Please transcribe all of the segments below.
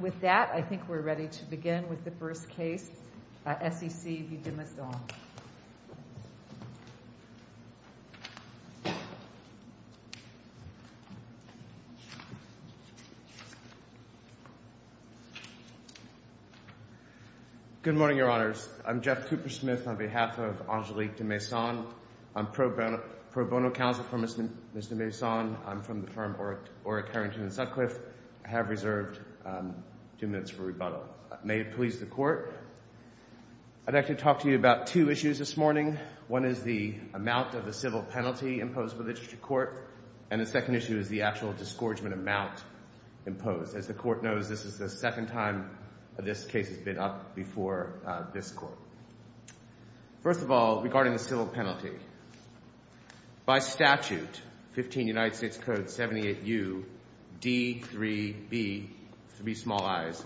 With that, I think we're ready to begin with the first case, S.E.C. v. de Maison. Good morning, Your Honors. I'm Jeff Cooper Smith on behalf of Angélique de Maison. I'm pro bono counsel for Ms. de Maison. I'm from the firm Oreck Harrington & Sutcliffe. I have reserved two minutes for rebuttal. May it please the Court, I'd like to talk to you about two issues this morning. One is the amount of the civil penalty imposed by the District Court, and the second issue is the actual disgorgement amount imposed. As the Court knows, this is the second time this case has been up before this Court. First of all, regarding the civil penalty, by statute, 15 United States Code 78U, D, 3, B, three small i's,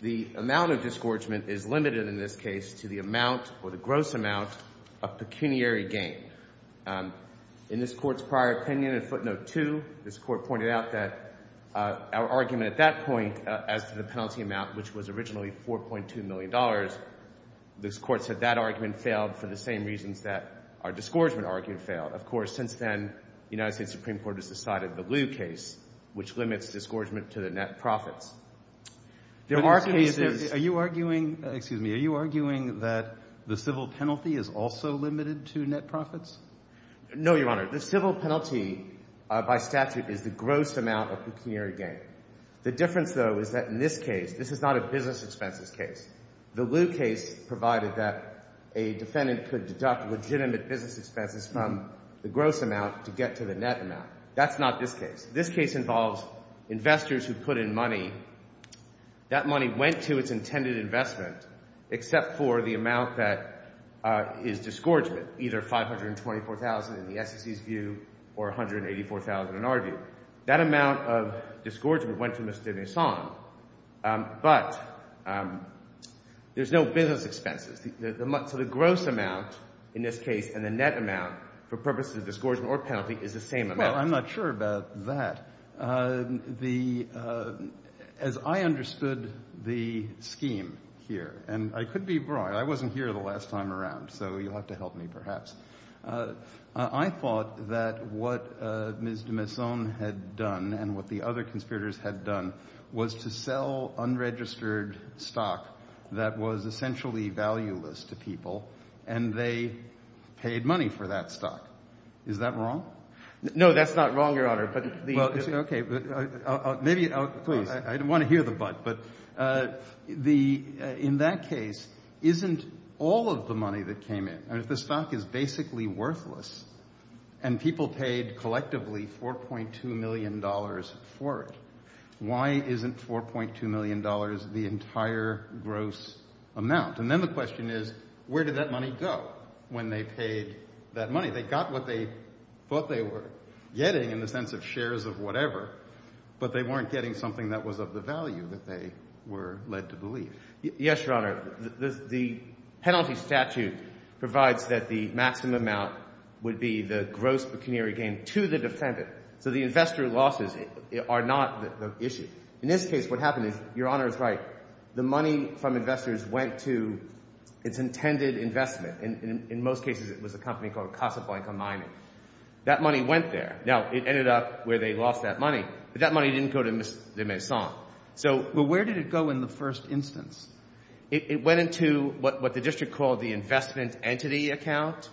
the amount of disgorgement is limited in this case to the amount or the gross amount of pecuniary gain. In this Court's prior opinion in footnote 2, this Court pointed out that our argument at that point as to the penalty amount, which was originally $4.2 million, this Court said that argument failed for the same reasons that our disgorgement argument failed. Of course, since then, the United States Supreme Court has decided the Lew case, which limits disgorgement to the net profits. There are cases — Are you arguing — excuse me. Are you arguing that the civil penalty is also limited to net profits? No, Your Honor. The civil penalty, by statute, is the gross amount of pecuniary gain. The difference, though, is that in this case — this is not a business expenses case. The Lew case provided that a defendant could deduct legitimate business expenses from the gross amount to get to the net amount. That's not this case. This case involves investors who put in money. That money went to its intended investment except for the amount that is disgorgement, either $524,000 in the SEC's view or $184,000 in our view. That amount of — there's no business expenses. So the gross amount in this case and the net amount for purposes of disgorgement or penalty is the same amount. Well, I'm not sure about that. As I understood the scheme here — and I could be wrong. I wasn't here the last time around, so you'll have to help me perhaps. I thought that what Ms. de Maison had done and what the other conspirators had done was to sell unregistered stock that was essentially valueless to people, and they paid money for that stock. Is that wrong? No, that's not wrong, Your Honor, but the — Well, okay, but maybe — please, I don't want to hear the but. But in that case, isn't all of the money that came in — I mean, if the stock is basically worthless and people paid collectively $4.2 million for it, why isn't $4.2 million the entire gross amount? And then the question is, where did that money go when they paid that money? They got what they thought they were getting in the sense of shares of whatever, but they weren't getting something that was of the value that they were led to believe. Yes, Your Honor. The penalty statute provides that the maximum amount would be the gross pecuniary gain to the defendant. So the investor losses are not the issue. In this case, what happened is, Your Honor is right, the money from investors went to its intended investment. And in most cases, it was a company called Casaflanca Mining. That money went there. Now, it ended up where they lost that money, but that money didn't go to Ms. de Maison. So — But where did it go in the first instance? It went into what the district called the investment entity account,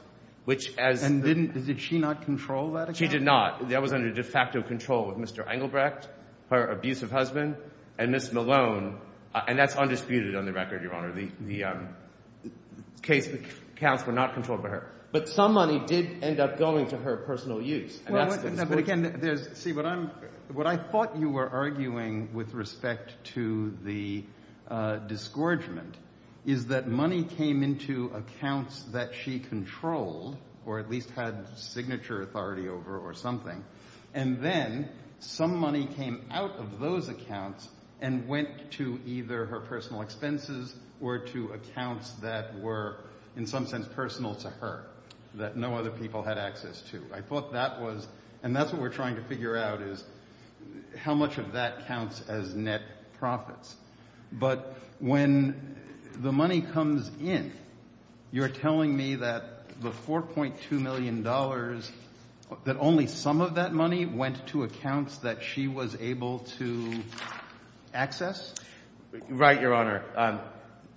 which, as — And didn't — did she not control that account? She did not. That was under de facto control of Mr. Engelbrecht, her abusive husband, and Ms. Malone. And that's undisputed on the record, Your Honor. The case — the accounts were not controlled by her. But some money did end up going to her personal use. But again, there's — see, what I'm — what I thought you were arguing with respect to the disgorgement is that money came into accounts that she controlled, or at least had signature authority over or something, and then some money came out of those accounts and went to either her personal expenses or to accounts that were, in some sense, personal to her, that no other people had access to. I thought that was — and that's what we're trying to figure out is how much of that counts as net profits. But when the money comes in, you're telling me that the $4.2 million — that only some of that money went to accounts that she was able to access? Right, Your Honor.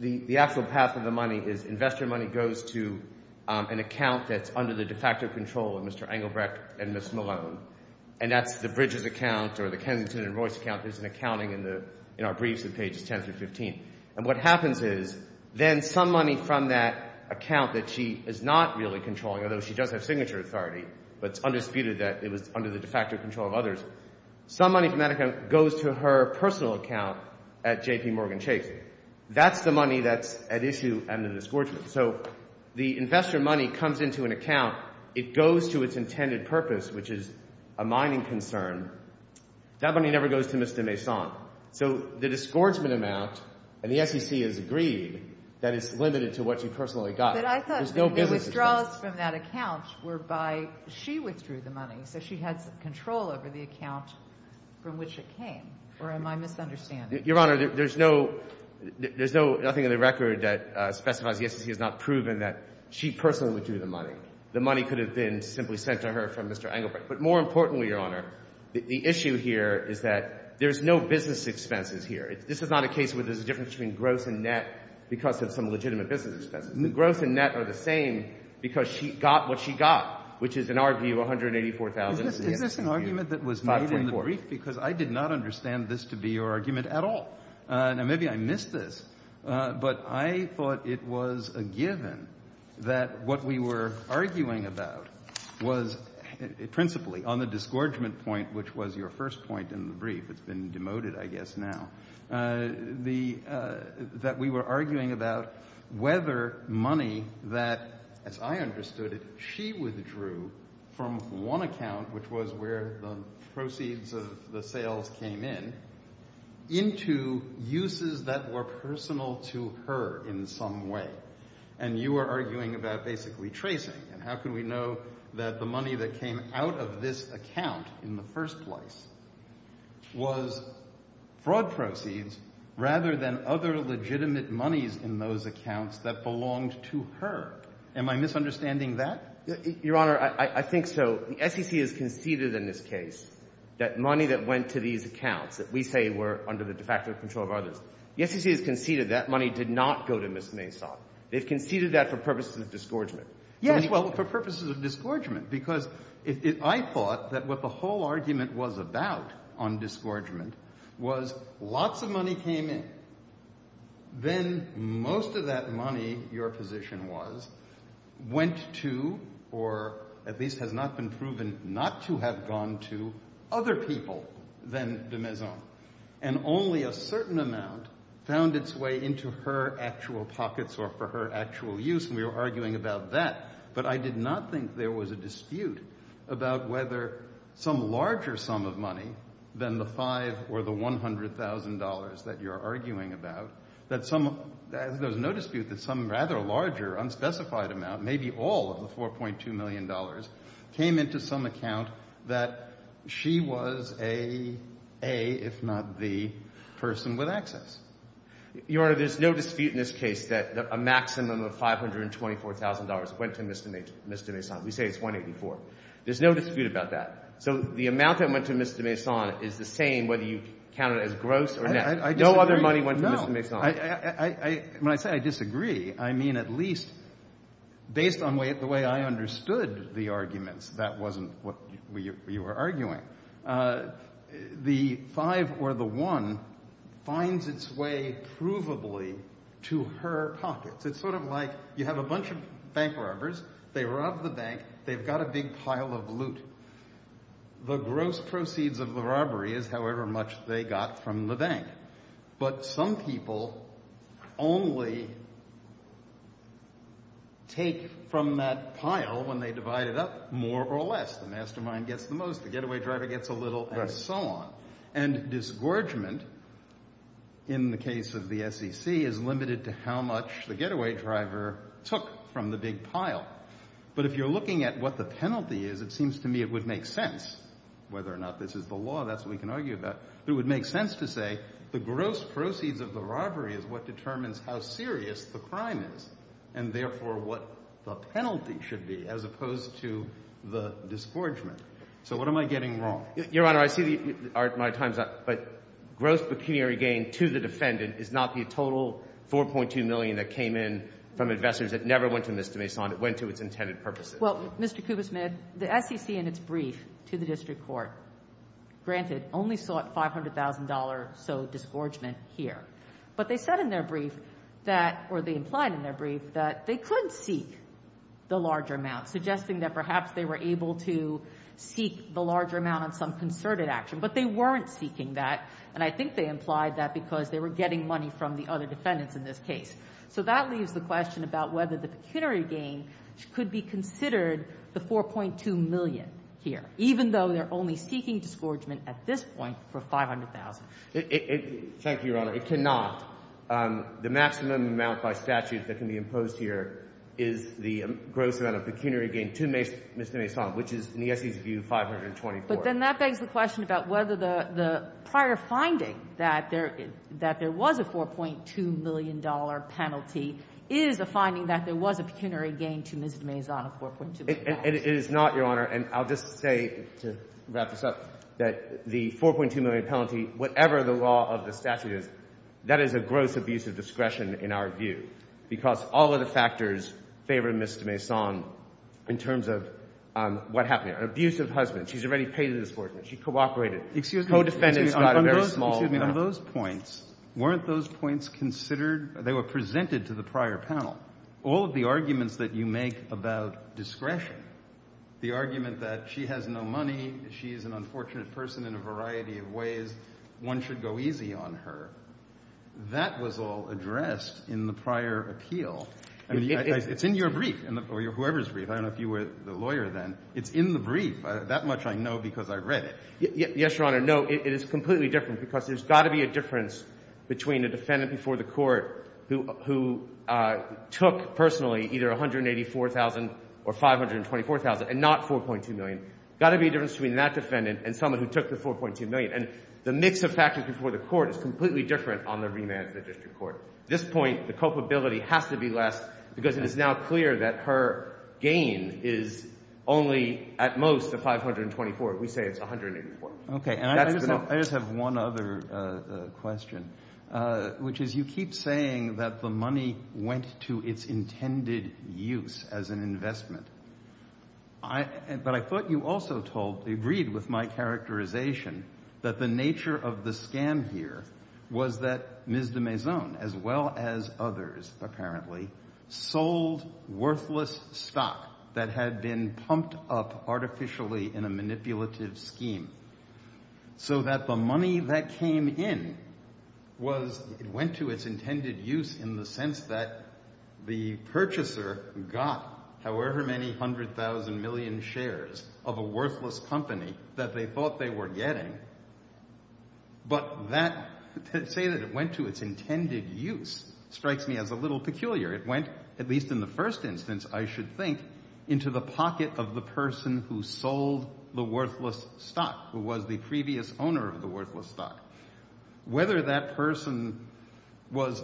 The actual path of the money is investor money goes to an account that's under the de facto control of Mr. Engelbrecht and Ms. Malone. And that's the Bridges account or the Kensington and Royce account. There's an accounting in the — in our briefs on pages 10 through 15. And what happens is then some money from that account that she is not really controlling, although she does have signature authority, but it's undisputed that it was under the de facto control of others, some money from that account goes to her personal account at JPMorgan Chase. That's the money that's at issue under the disgorgement. So the investor money comes into an account. It goes to its intended purpose, which is a mining concern. That money never goes to Mr. Maison. So the disgorgement amount, and the SEC has agreed, that it's limited to what she personally got. But I thought the withdrawals from that account were by — she withdrew the money, so she had some control over the account from which it came. Or am I misunderstanding? Your Honor, there's no — there's nothing in the record that specifies the SEC has not proven that she personally withdrew the money. The money could have been simply sent to her from Mr. Engelbrecht. But more importantly, Your Honor, the issue here is that there's no business expenses here. This is not a case where there's a difference between growth and net because of some legitimate business expenses. The growth and net are the same because she got what she got, which is, in our view, $184,000. Is this an argument that was made in the brief because I did not understand this to be your argument at all? Now, maybe I missed this, but I thought it was a given that what we were arguing about was — principally, on the disgorgement point, which was your first point in the brief — it's been demoted, I guess, now — that we were arguing about whether money that, as I understood it, she withdrew from one account, which was where the proceeds of the sales came in, into uses that were personal to her in some way. And you are arguing about basically tracing. And how could we know that the money that came out of this account in the first place was fraud proceeds rather than other legitimate monies in those accounts that belonged to her? Am I misunderstanding that? Your Honor, I think so. The SEC has conceded in this case that money that went to these accounts that we say were under the de facto control of others, the SEC has conceded that money did not go to Ms. Maysot. They've conceded that for purposes of disgorgement. Yes. Well, for purposes of disgorgement, because I thought that what the whole argument was about on disgorgement was lots of money came in. Then most of that money, your Honor, has gone to or at least has not been proven not to have gone to other people than de Maysot. And only a certain amount found its way into her actual pockets or for her actual use. And we were arguing about that. But I did not think there was a dispute about whether some larger sum of money than the five or the $100,000 that you're arguing about, that some, there's no dispute that some rather larger unspecified amount, maybe all of the $4.2 million, came into some account that she was a, if not the, person with access. Your Honor, there's no dispute in this case that a maximum of $524,000 went to Ms. de Maysot. We say it's $184,000. There's no dispute about that. So the amount that went to Ms. de Maysot is the same whether you count it as gross or net. No other money went to Ms. de Maysot. I, when I say I disagree, I mean at least based on the way I understood the arguments, that wasn't what we were arguing. The five or the one finds its way provably to her pockets. It's sort of like you have a bunch of bank robbers. They rob the bank. They've got a big pile of loot. The gross proceeds of the robbery is however much they got from the bank. But some people only take from that pile when they divide it up more or less. The mastermind gets the most, the getaway driver gets a little, and so on. And disgorgement in the case of the SEC is limited to how much the getaway driver took from the big pile. But if you're looking at what the penalty is, it seems to me it would make sense, whether or not this is the law, that's what we can argue about, but it would make sense to say the gross proceeds of the robbery is what determines how serious the crime is, and therefore what the penalty should be as opposed to the disgorgement. So what am I getting wrong? Your Honor, I see my time's up, but gross pecuniary gain to the defendant is not the total $4.2 million that came in from investors that never went to Ms. de Maysot. It went to its intended purposes. Well, Mr. Kubitschmidt, the SEC in its brief to the district court, granted, only sought $500,000 or so disgorgement here. But they said in their brief that, or they implied in their brief, that they could seek the larger amount, suggesting that perhaps they were able to seek the larger amount on some concerted action. But they weren't seeking that, and I think they implied that because they were getting money from the other defendants in this case. So that leaves the question about whether the pecuniary gain could be considered the $4.2 million here, even though they're only seeking disgorgement at this point for $500,000. Thank you, Your Honor. It cannot. The maximum amount by statute that can be imposed here is the gross amount of pecuniary gain to Ms. de Maysot, which is, in the SEC's view, $524,000. But then that begs the question about whether the prior finding that there was a $4.2 million penalty is the finding that there was a pecuniary gain to Ms. de Maysot of $4.2 million. It is not, Your Honor. And I'll just say, to wrap this up, that the $4.2 million penalty, whatever the law of the statute is, that is a gross abuse of discretion in our view, because all of the factors favor Ms. de Maysot in terms of what happened here. An abusive husband. She's already paid the disgorgement. She cooperated. Co-defendants got a very small amount. Excuse me. On those points, weren't those points considered — they were presented to the prior panel. All of the arguments that you make about discretion, the argument that she has no money, she's an unfortunate person in a variety of ways, one should go easy on her, that was all addressed in the prior appeal. It's in your brief, or whoever's brief. I don't know if you were the lawyer then. It's in the brief. That much I know because I've read it. Yes, Your Honor. No, it is completely different because there's got to be a difference between a defendant before the court who took personally either $184,000 or $524,000 and not $4.2 million. Got to be a difference between that defendant and someone who took the $4.2 million. And the mix of factors before the court is completely different on the remand to the district court. At this point, the culpability has to be less because it is now clear that her gain is only at most $524,000. We say it's $184,000. Okay. And I just have one other question, which is you keep saying that the money went to its intended use as an investment. But I thought you also told — agreed with my characterization that the nature of the scam here was that Ms. de Maison, as well as others apparently, sold worthless stock that had been pumped up artificially in a manipulative scheme so that the money that came in was — it went to its intended use in the sense that the purchaser got however many hundred thousand million shares of a worthless company that they thought they were getting. But that — to say that it went to its intended use strikes me as a little peculiar. It went, at least in the first instance, I should think, into the pocket of the person who sold the worthless stock, who was the previous owner of the worthless stock. Whether that person was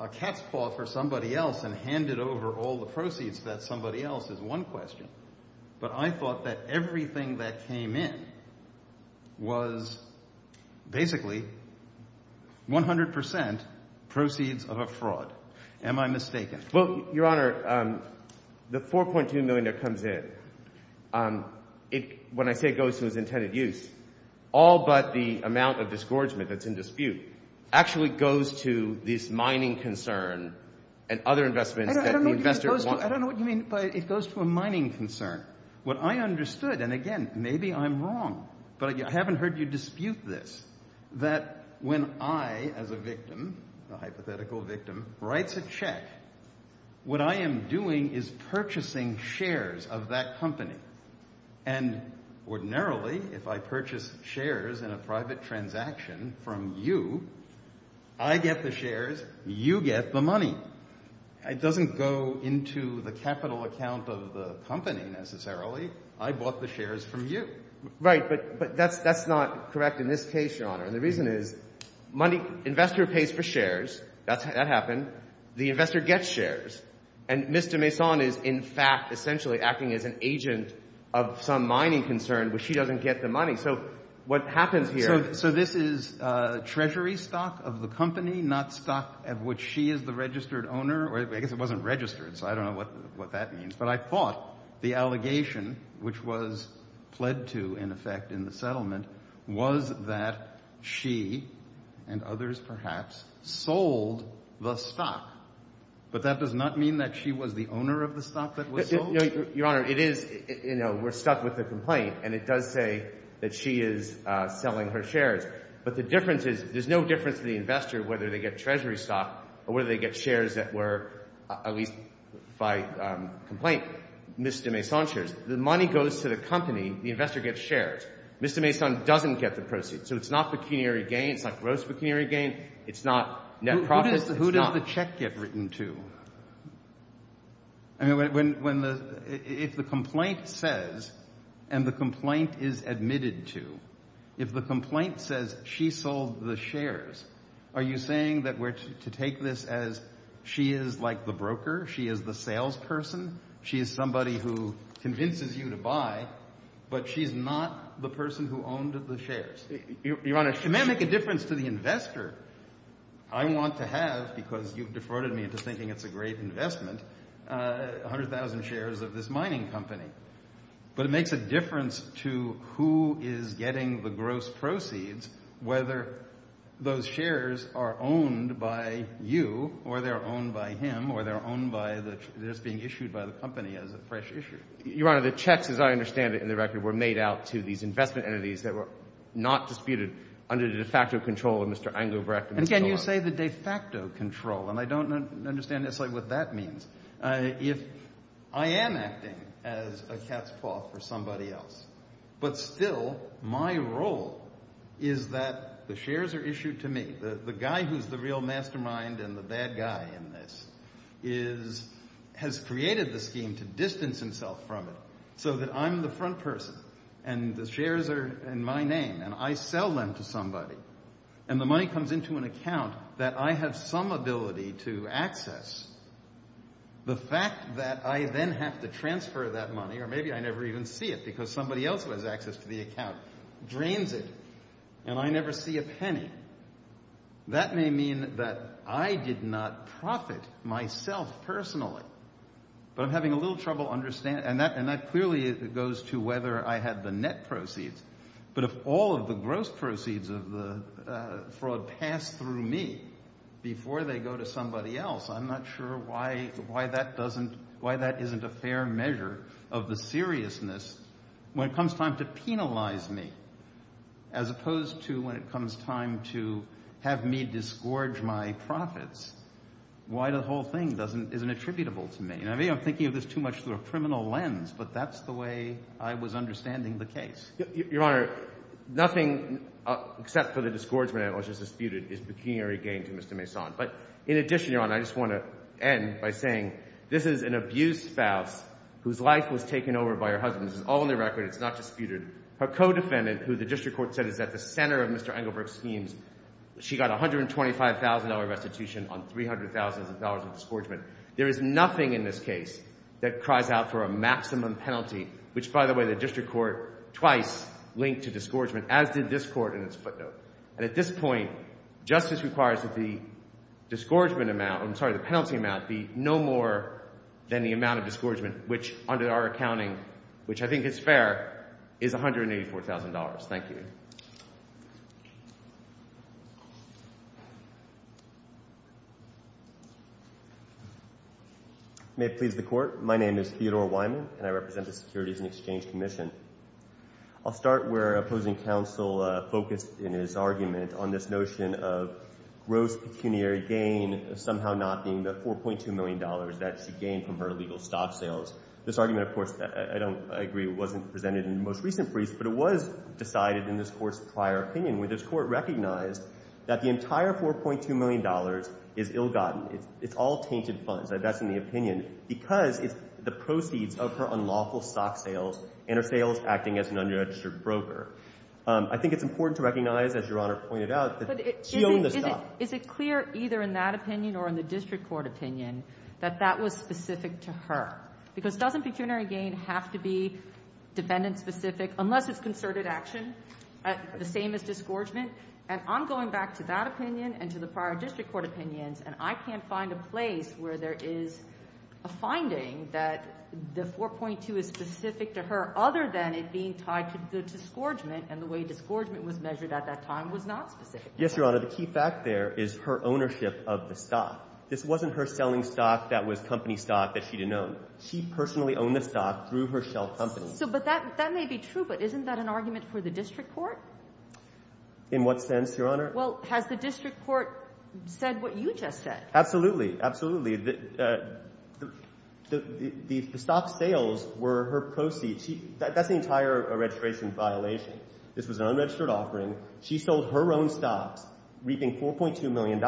a cat's paw for somebody else and handed over all the proceeds to that somebody else is one question. But I thought that everything that came in was basically 100 percent proceeds of a fraud. Am I mistaken? Well, Your Honor, the $4.2 million that comes in, it — when I say it goes to its intended use, all but the amount of disgorgement that's in dispute actually goes to this mining concern and other investments that the investor — I don't know what you mean, but it goes to a And again, maybe I'm wrong, but I haven't heard you dispute this, that when I, as a victim, a hypothetical victim, writes a check, what I am doing is purchasing shares of that company. And ordinarily, if I purchase shares in a private transaction from you, I get the shares, you get the money. It doesn't go into the capital account of the company necessarily. I bought the shares from you. Right. But that's not correct in this case, Your Honor. And the reason is, money — investor pays for shares. That happened. The investor gets shares. And Mr. Mason is, in fact, essentially acting as an agent of some mining concern, but she doesn't get the money. So what happens here — So this is treasury stock of the company, not stock of which she is the registered owner, or I guess it wasn't registered, so I don't know what that means. But I thought the allegation, which was pled to, in effect, in the settlement, was that she and others perhaps sold the stock. But that does not mean that she was the owner of the stock that was sold? Your Honor, it is — you know, we're stuck with the complaint, and it does say that she is selling her shares. But the difference is, there's no difference to the investor whether they get treasury stock or whether they get shares that were, at least by complaint, Mr. Mason's shares. The money goes to the company. The investor gets shares. Mr. Mason doesn't get the proceeds. So it's not pecuniary gain. It's not gross pecuniary gain. It's not net profit. It's not — Who does the check get written to? I mean, when the — if the complaint says, and the complaint is admitted to, if the complaint says she sold the shares, are you saying that we're to take this as she is like the broker, she is the salesperson, she is somebody who convinces you to buy, but she's not the person who owned the shares? Your Honor, it may make a difference to the investor. I want to have, because you've defrauded me into thinking it's a great investment, 100,000 shares of this mining company. But it makes a difference to who is getting the gross proceeds, whether those shares are owned by you or they're owned by him or they're owned by the — they're just being issued by the company as a fresh issue. Your Honor, the checks, as I understand it in the record, were made out to these investment entities that were not disputed under the de facto control of Mr. Engelbrecht. And can you say the de facto control? And I don't understand exactly what that means. If I am acting as a cat's claw for somebody else, but still my role is that the shares are issued to me, the guy who's the real mastermind and the bad guy in this is — has created the scheme to distance himself from it so that I'm the front person and the shares are in my name and I sell them to somebody and the money comes into an access, the fact that I then have to transfer that money, or maybe I never even see it because somebody else has access to the account, drains it and I never see a penny, that may mean that I did not profit myself personally. But I'm having a little trouble understanding — and that clearly goes to whether I had the net proceeds. But if all of the gross proceeds of the before they go to somebody else, I'm not sure why that doesn't — why that isn't a fair measure of the seriousness when it comes time to penalize me, as opposed to when it comes time to have me disgorge my profits. Why the whole thing doesn't — isn't attributable to me. And maybe I'm thinking of this too much through a criminal lens, but that's the way I was understanding the case. Your Honor, nothing except for the disgorgement analysis disputed is pecuniary gain to Mr. Mason. But in addition, Your Honor, I just want to end by saying this is an abused spouse whose life was taken over by her husband. This is all on the record. It's not disputed. Her co-defendant, who the district court said is at the center of Mr. Engelberg's schemes, she got a $125,000 restitution on $300,000 of disgorgement. There is nothing in this case that cries out for a link to disgorgement, as did this court in its footnote. And at this point, justice requires that the disgorgement amount — I'm sorry, the penalty amount be no more than the amount of disgorgement, which under our accounting, which I think is fair, is $184,000. Thank you. May it please the Court, my name is Theodore Wyman and I represent the Securities and Exchange Commission. I'll start where opposing counsel focused in his argument on this notion of gross pecuniary gain somehow not being the $4.2 million that she gained from her illegal stock sales. This argument, of course, I don't — I agree wasn't presented in the most recent briefs, but it was decided in this Court's prior opinion, where this Court recognized that the entire $4.2 million is ill-gotten. It's all tainted funds. That's in the opinion. Because it's the proceeds of her unlawful stock sales and her sales acting as an unregistered broker. I think it's important to recognize, as Your Honor pointed out, that she owned the stock. Is it clear either in that opinion or in the district court opinion that that was specific to her? Because doesn't pecuniary gain have to be defendant-specific, unless it's concerted action, the same as disgorgement? And I'm going back to that opinion and to the prior district court opinions, and I can't find a place where there is a finding that the $4.2 million is specific to her, other than it being tied to disgorgement, and the way disgorgement was measured at that time was not specific. Yes, Your Honor. The key fact there is her ownership of the stock. This wasn't her selling stock that was company stock that she didn't own. She personally owned the stock through her shelf company. So — but that — that may be true, but isn't that an argument for the district court? In what sense, Your Honor? Well, has the district court said what you just said? Absolutely. Absolutely. The stock sales were her proceeds. She — that's the entire registration violation. This was an unregistered offering. She sold her own stocks reaping $4.2 million,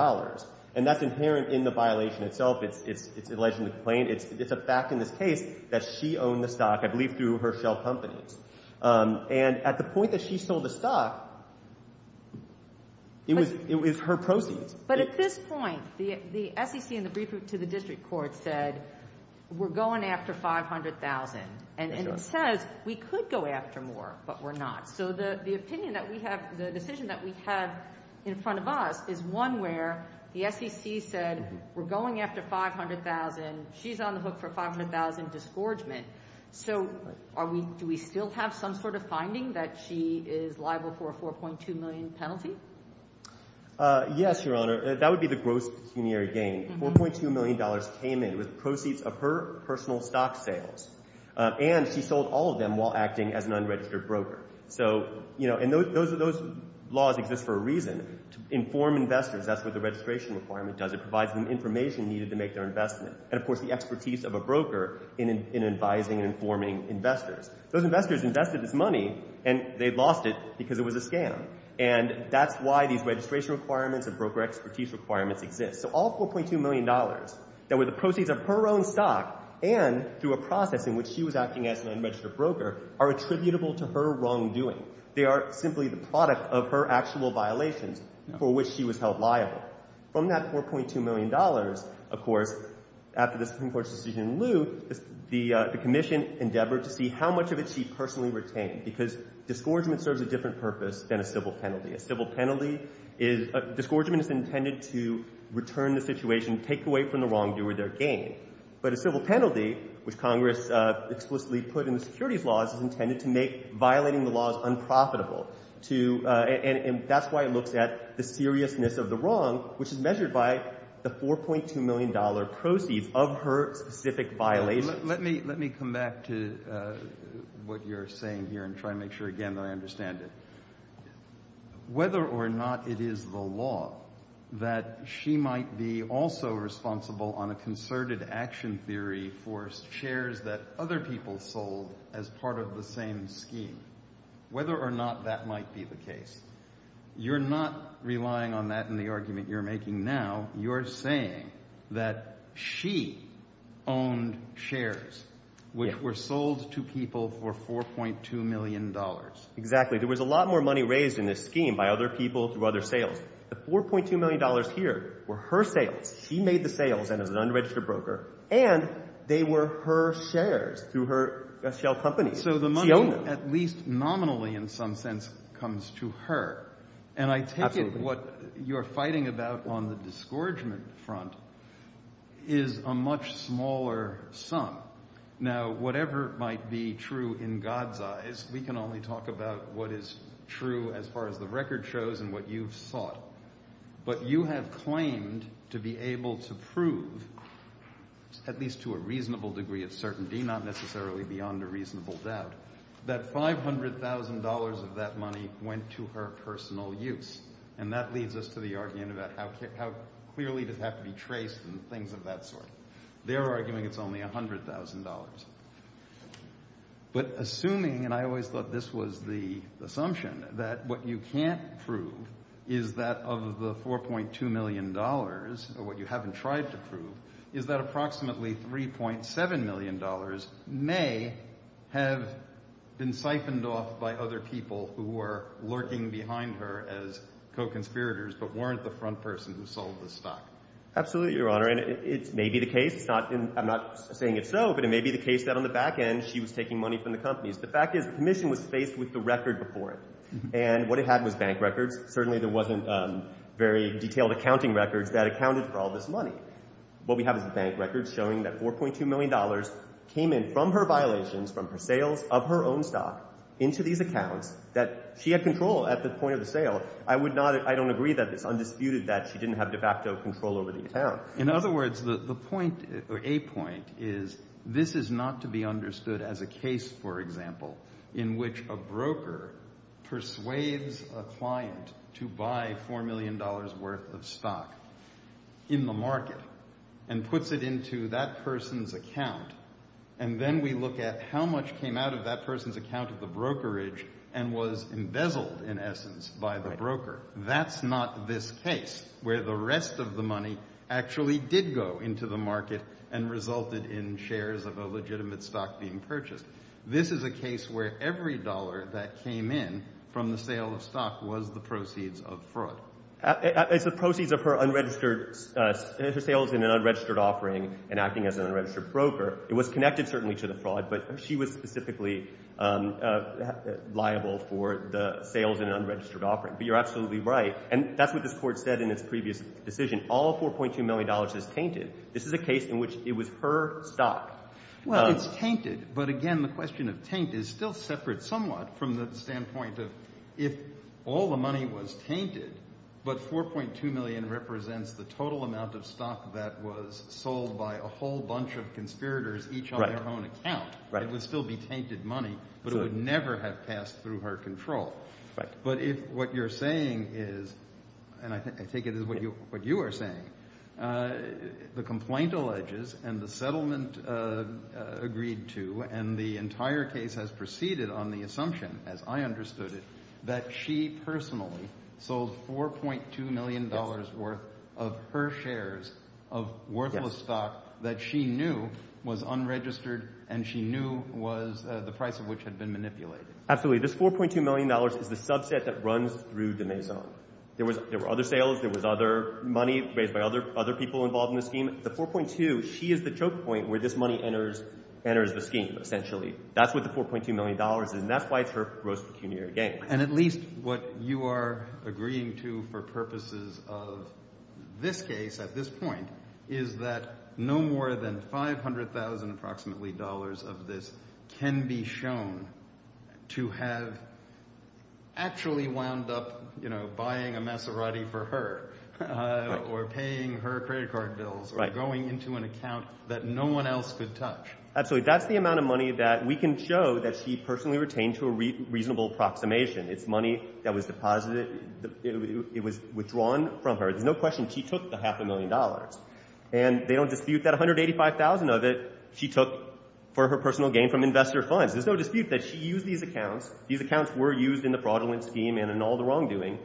and that's inherent in the violation itself. It's allegedly plain. It's a fact in this case that she owned the stock, I believe, through her shelf company. And at the point that she sold the stock, it was — it was her proceeds. But at this point, the SEC in the brief to the district court said, we're going after $500,000. And it says we could go after more, but we're not. So the opinion that we have — the decision that we have in front of us is one where the SEC said, we're going after $500,000. She's on the hook for $500,000 disgorgement. So are we — do we still have some sort of finding that she is liable for a $4.2 million penalty? Yes, Your Honor. That would be the gross pecuniary gain. $4.2 million came in with proceeds of her personal stock sales. And she sold all of them while acting as an unregistered broker. So, you know, and those — those laws exist for a reason. To inform investors, that's what the registration requirement does. It provides them information needed to make their investment. And of course, the expertise of a broker in advising and informing investors. Those investors invested this money, and they lost it because it was a disgorgement. And that's why these registration requirements and broker expertise requirements exist. So all $4.2 million that were the proceeds of her own stock and through a process in which she was acting as an unregistered broker are attributable to her wrongdoing. They are simply the product of her actual violations for which she was held liable. From that $4.2 million, of course, after the Supreme Court's decision in lieu, the Commission endeavored to see how much of it she personally retained. Because a disgorgement serves a different purpose than a civil penalty. A civil penalty is — a disgorgement is intended to return the situation, take away from the wrongdoer their gain. But a civil penalty, which Congress explicitly put in the securities laws, is intended to make violating the laws unprofitable. To — and that's why it looks at the seriousness of the wrong, which is measured by the $4.2 million proceeds of her specific violations. Let me — let me come back to what you're saying here and try to make sure again that I understand it. Whether or not it is the law that she might be also responsible on a concerted action theory for shares that other people sold as part of the same scheme, whether or not that might be the case, you're not relying on that in the argument you're making now. You're saying that she owned shares which were sold to people for $4.2 million. Exactly. There was a lot more money raised in this scheme by other people through other sales. The $4.2 million here were her sales. She made the sales and as an unregistered broker. And they were her shares through her shell company. So the money, at least nominally in some sense, comes to her. And I take it what you're fighting about on the disgorgement front is a much smaller sum. Now, whatever might be true in God's eyes, we can only talk about what is true as far as the record shows and what you've sought. But you have claimed to be able to prove, at least to a reasonable degree of certainty, not necessarily beyond a reasonable doubt, that $500,000 of that money went to her personal use. And that leads us to the argument about how clearly does it have to be traced and things of that sort. They're arguing it's only $100,000. But assuming, and I always thought this was the assumption, that what you can't prove is that of the $4.2 million, or what you haven't tried to prove, is that approximately $3.7 million may have been siphoned off by other people who were lurking behind her as co-conspirators but weren't the front person who sold the stock. Absolutely, Your Honor. And it may be the case. I'm not saying it's so, but it may be the case that on the back end she was taking money from the companies. The fact is the Commission was faced with the record before it. And what it had was bank records. Certainly there wasn't very detailed accounting records that accounted for all this money. What we have is the bank records showing that $4.2 million came in from her violations, from her sales of her own stock, into these accounts that she had control at the point of the sale. I don't agree that it's undisputed that she didn't have de facto control over the account. In other words, the point, or a point, is this is not to be understood as a case, for example, in which a broker persuades a client to buy $4 million worth of stock in the market and puts it into that person's account. And then we look at how much came out of that person's account of the brokerage and was embezzled, in essence, by the broker. That's not this case, where the rest of the money actually did go into the market and resulted in shares of a legitimate stock being purchased. This is a case where every dollar that came in from the sale of stock was the proceeds of fraud. It's the proceeds of her unregistered sales in an unregistered offering and acting as an unregistered broker. It was connected, certainly, to the fraud, but she was specifically liable for the sales in an unregistered offering. But you're absolutely right, and that's what this Court said in its previous decision. All $4.2 million is tainted. This is a case in which it was her stock. Well, it's tainted, but again, the question of taint is still separate somewhat from the standpoint of if all the money was tainted, but $4.2 million each on their own account, it would still be tainted money, but it would never have passed through her control. But if what you're saying is, and I take it as what you are saying, the complaint alleges and the settlement agreed to and the entire case has proceeded on the assumption, as I understood it, that she personally sold $4.2 million worth of her shares of worthless stock that she knew was unregistered and she knew was the price of which had been manipulated. Absolutely. This $4.2 million is the subset that runs through de Maison. There were other sales. There was other money raised by other people involved in the scheme. The $4.2, she is the choke point where this money enters the scheme, essentially. That's what the $4.2 million is, and that's why it's her gross pecuniary gain. And at least what you are agreeing to for purposes of this case at this point is that no more than $500,000 approximately of this can be shown to have actually wound up buying a Maserati for her or paying her credit card bills or going into an account that no one else could touch. Absolutely. That's the amount of money that we can show that she personally retained to a reasonable approximation. It's money that was withdrawn from her. There's no question she took the half a million dollars. And they don't dispute that $185,000 of it she took for her personal gain from investor funds. There's no dispute that she used these accounts. These accounts were used in the fraudulent scheme and in all the wrongdoing.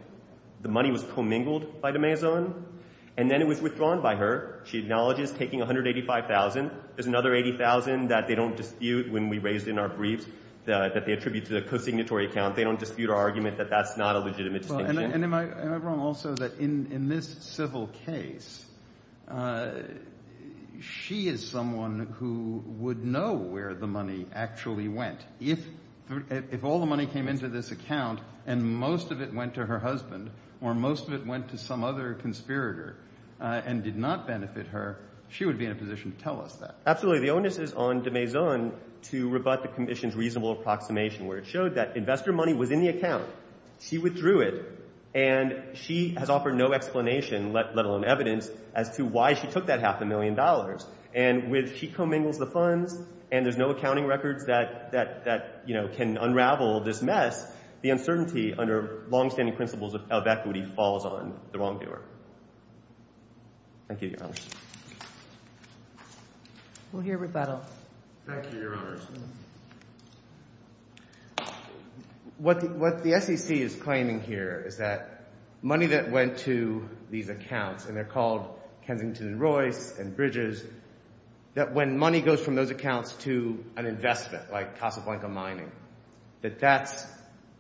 The money was commingled by de Maison, and then it was withdrawn by her. She acknowledges taking $185,000. There's another $80,000 that they don't dispute when we raised in our briefs that they attribute to the co-signatory account. They don't dispute our argument that that's not a legitimate distinction. And am I wrong also that in this civil case, she is someone who would know where the money actually went. If all the money came into this account and most of it went to her husband or most of it went to some other conspirator and did not benefit her, she would be in a position to tell us that. Absolutely. The onus is on de Maison to rebut the commission's reasonable approximation where it showed that investor money was in the account, she withdrew it, and she has offered no explanation, let alone evidence, as to why she took that half a million dollars. And when she commingles the funds and there's no accounting records that, you know, can unravel this mess, the uncertainty under longstanding principles of equity falls on the wrongdoer. Thank you, Your Honor. We'll hear rebuttal. Thank you, Your Honor. What the SEC is claiming here is that money that went to these accounts, and they're called Kensington and Royce and Bridges, that when money goes from those accounts to an investment like Casablanca Mining, that that's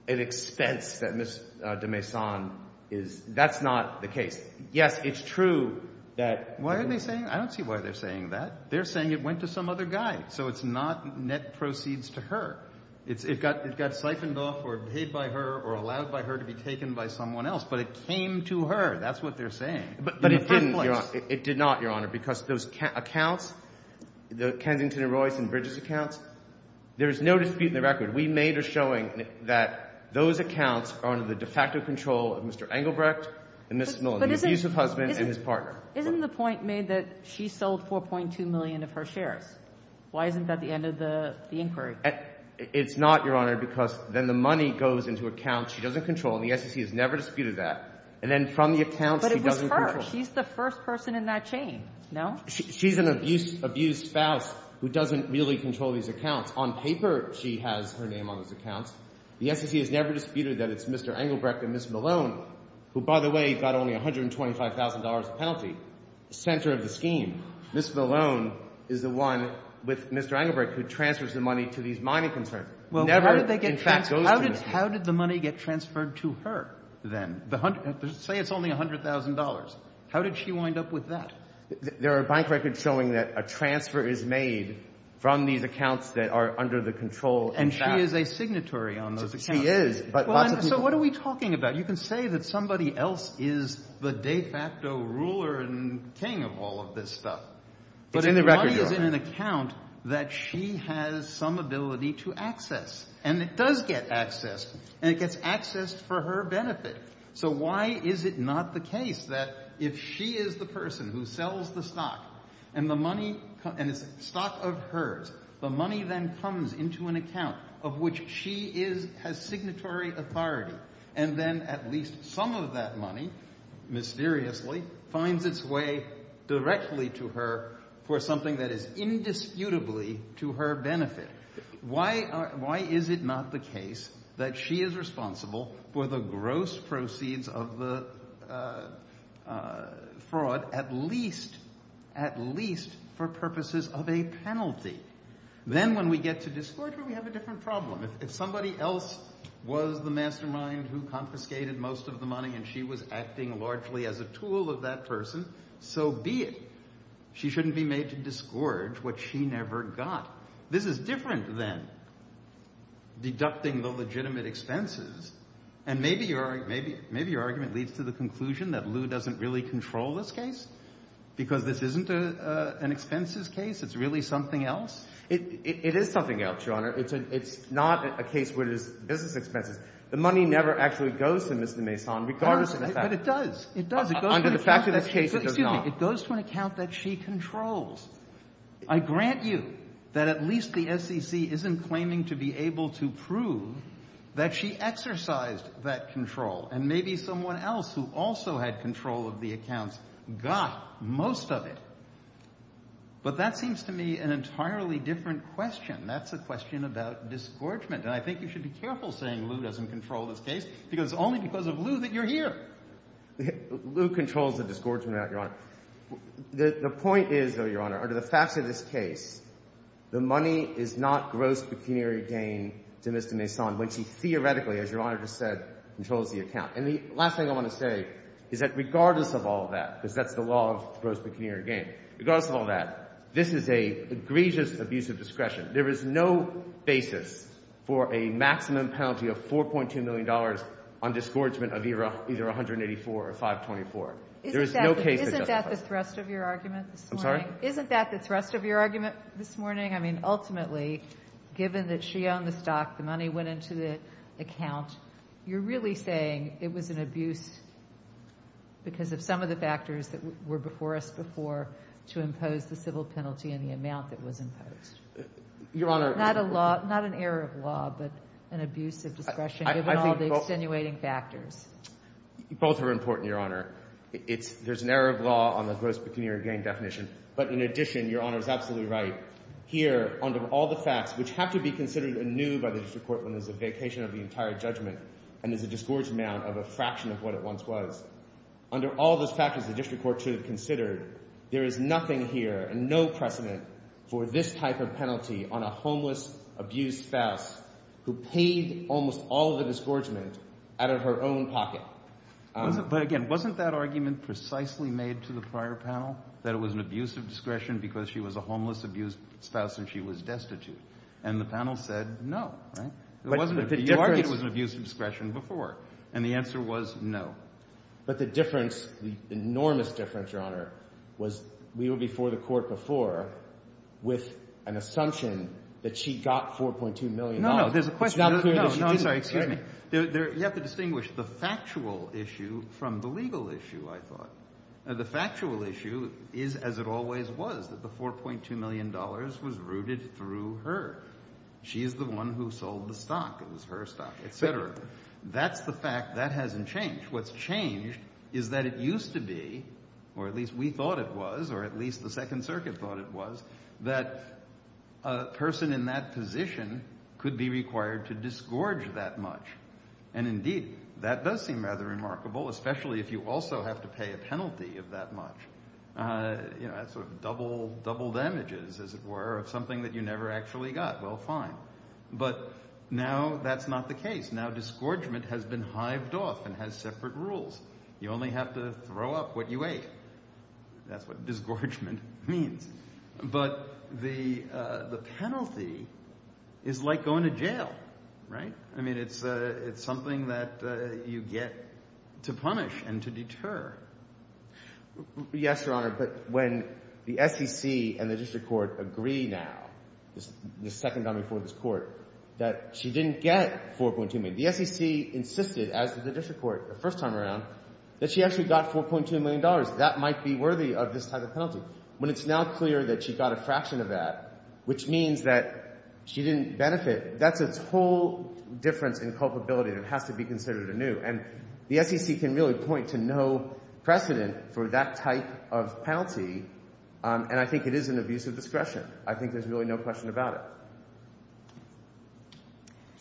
an expense that Ms. de Maison is, that's not the case. Yes, it's true that... Why are they saying, I don't see why they're saying that. They're saying it proceeds to her. It got siphoned off or paid by her or allowed by her to be taken by someone else, but it came to her. That's what they're saying. But it didn't, Your Honor. It did not, Your Honor, because those accounts, the Kensington and Royce and Bridges accounts, there's no dispute in the record. We made a showing that those accounts are under the de facto control of Mr. Engelbrecht and Ms. Millen, the abusive husband and his partner. Isn't the point made that she sold 4.2 million of her shares? Why isn't that the end of the inquiry? It's not, Your Honor, because then the money goes into accounts she doesn't control, and the SEC has never disputed that, and then from the accounts she doesn't control. But it was her. She's the first person in that chain, no? She's an abused spouse who doesn't really control these accounts. On paper, she has her name on those accounts. The SEC has never disputed that it's Mr. Engelbrecht and Ms. Millen. Ms. Millen is the one with Mr. Engelbrecht who transfers the money to these mining concerns. How did the money get transferred to her, then? Say it's only $100,000. How did she wind up with that? There are bank records showing that a transfer is made from these accounts that are under the control. And she is a signatory on those accounts. She is. So what are we talking about? You can say that somebody else is the de facto ruler and king of all of this stuff, but the money is in an account that she has some ability to access. And it does get accessed, and it gets accessed for her benefit. So why is it not the case that if she is the person who sells the stock, and the money, and it's stock of hers, the money then comes into an account of which she has signatory authority? And then at least some of that money, mysteriously, finds its way directly to her for something that is indisputably to her benefit. Why is it not the case that she is responsible for the gross proceeds of the fraud, at least for purposes of a penalty? Then when we get to disgorge her, we have a different problem. If somebody else was the mastermind who confiscated most of the money, and she was acting largely as a tool of that person, so be it. She shouldn't be made to disgorge what she never got. This is different than deducting the legitimate expenses. And maybe your argument leads to the conclusion that Lew doesn't really control this case, because this isn't an expenses case. It's really something else. It is something else, Your Honor. It's not a case where it is business expenses. The money never actually goes to Ms. de Maison, regardless of the fact. But it does. It does. Under the fact of this case, it does not. It goes to an account that she controls. I grant you that at least the SEC isn't claiming to be able to prove that she exercised that control. And maybe someone else who also had control of the accounts got most of it. But that seems to me an entirely different question. That's a question about disgorgement. And I think you should be careful saying Lew doesn't control this case, because it's only because of Lew that you're here. Lew controls the disgorgement of that, Your Honor. The point is, though, Your Honor, under the facts of this case, the money is not gross pecuniary gain to Ms. de Maison, when she theoretically, as Your Honor just said, controls the account. And the last thing I want to say is that regardless of all that, because that's the law of gross pecuniary gain, regardless of all that, this is an egregious abuse of discretion. There is no basis for a maximum penalty of $4.2 million on disgorgement of either $184 or $524. There is no case that doesn't apply. Isn't that the thrust of your argument this morning? I'm sorry? Isn't that the thrust of your argument this morning? I mean, ultimately, given that she owned the stock, the money went into the account, you're really saying it was an abuse because of some of the factors that were before us before to impose the civil penalty and the amount that was imposed? Your Honor— Not an error of law, but an abuse of discretion, given all the extenuating factors. I think both are important, Your Honor. There's an error of law on the gross pecuniary gain definition. But in addition, Your Honor is absolutely right. Here, under all the facts which have to be considered anew by the district court when there's a vacation of the entire judgment and there's a disgorgement of a fraction of what it once was, under all those factors the district court should have considered, there is nothing here and no precedent for this type of penalty on a homeless, abused spouse who paid almost all of the disgorgement out of her own pocket. But again, wasn't that argument precisely made to the prior panel, that it was an abuse of discretion? And the panel said no, right? It wasn't an abuse of discretion before. And the answer was no. But the difference, the enormous difference, Your Honor, was we were before the court before with an assumption that she got $4.2 million. No, no, there's a question. It's not clear that she didn't. No, no, I'm sorry, excuse me. You have to distinguish the factual issue from the legal issue, I thought. The factual issue is as it always was, that the $4.2 million was rooted through her. She is the one who sold the stock. It was her stock, et cetera. That's the fact. That hasn't changed. What's changed is that it used to be, or at least we thought it was, or at least the Second Circuit thought it was, that a person in that position could be required to disgorge that much. And indeed, that does seem rather remarkable, especially if you also have to pay a penalty of that much. You know, that's sort of double damages, as it were, of something that you never actually got. Well, fine. But now that's not the case. Now, disgorgement has been hived off and has separate rules. You only have to throw up what you ate. That's what disgorgement means. But the penalty is like going to jail, right? I mean, it's something that you get to punish and to deter. Yes, Your Honor. But when the SEC and the district court agree now, the second time before this court, that she didn't get $4.2 million, the SEC insisted, as did the district court the first time around, that she actually got $4.2 million. That might be worthy of this type of penalty. When it's now clear that she got a fraction of that, which means that she didn't benefit, that's a whole difference in culpability that has to be considered anew. The SEC can really point to no precedent for that type of penalty, and I think it is an abuse of discretion. I think there's really no question about it.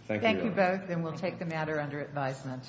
Thank you. Thank you both, and we'll take the matter under advisement.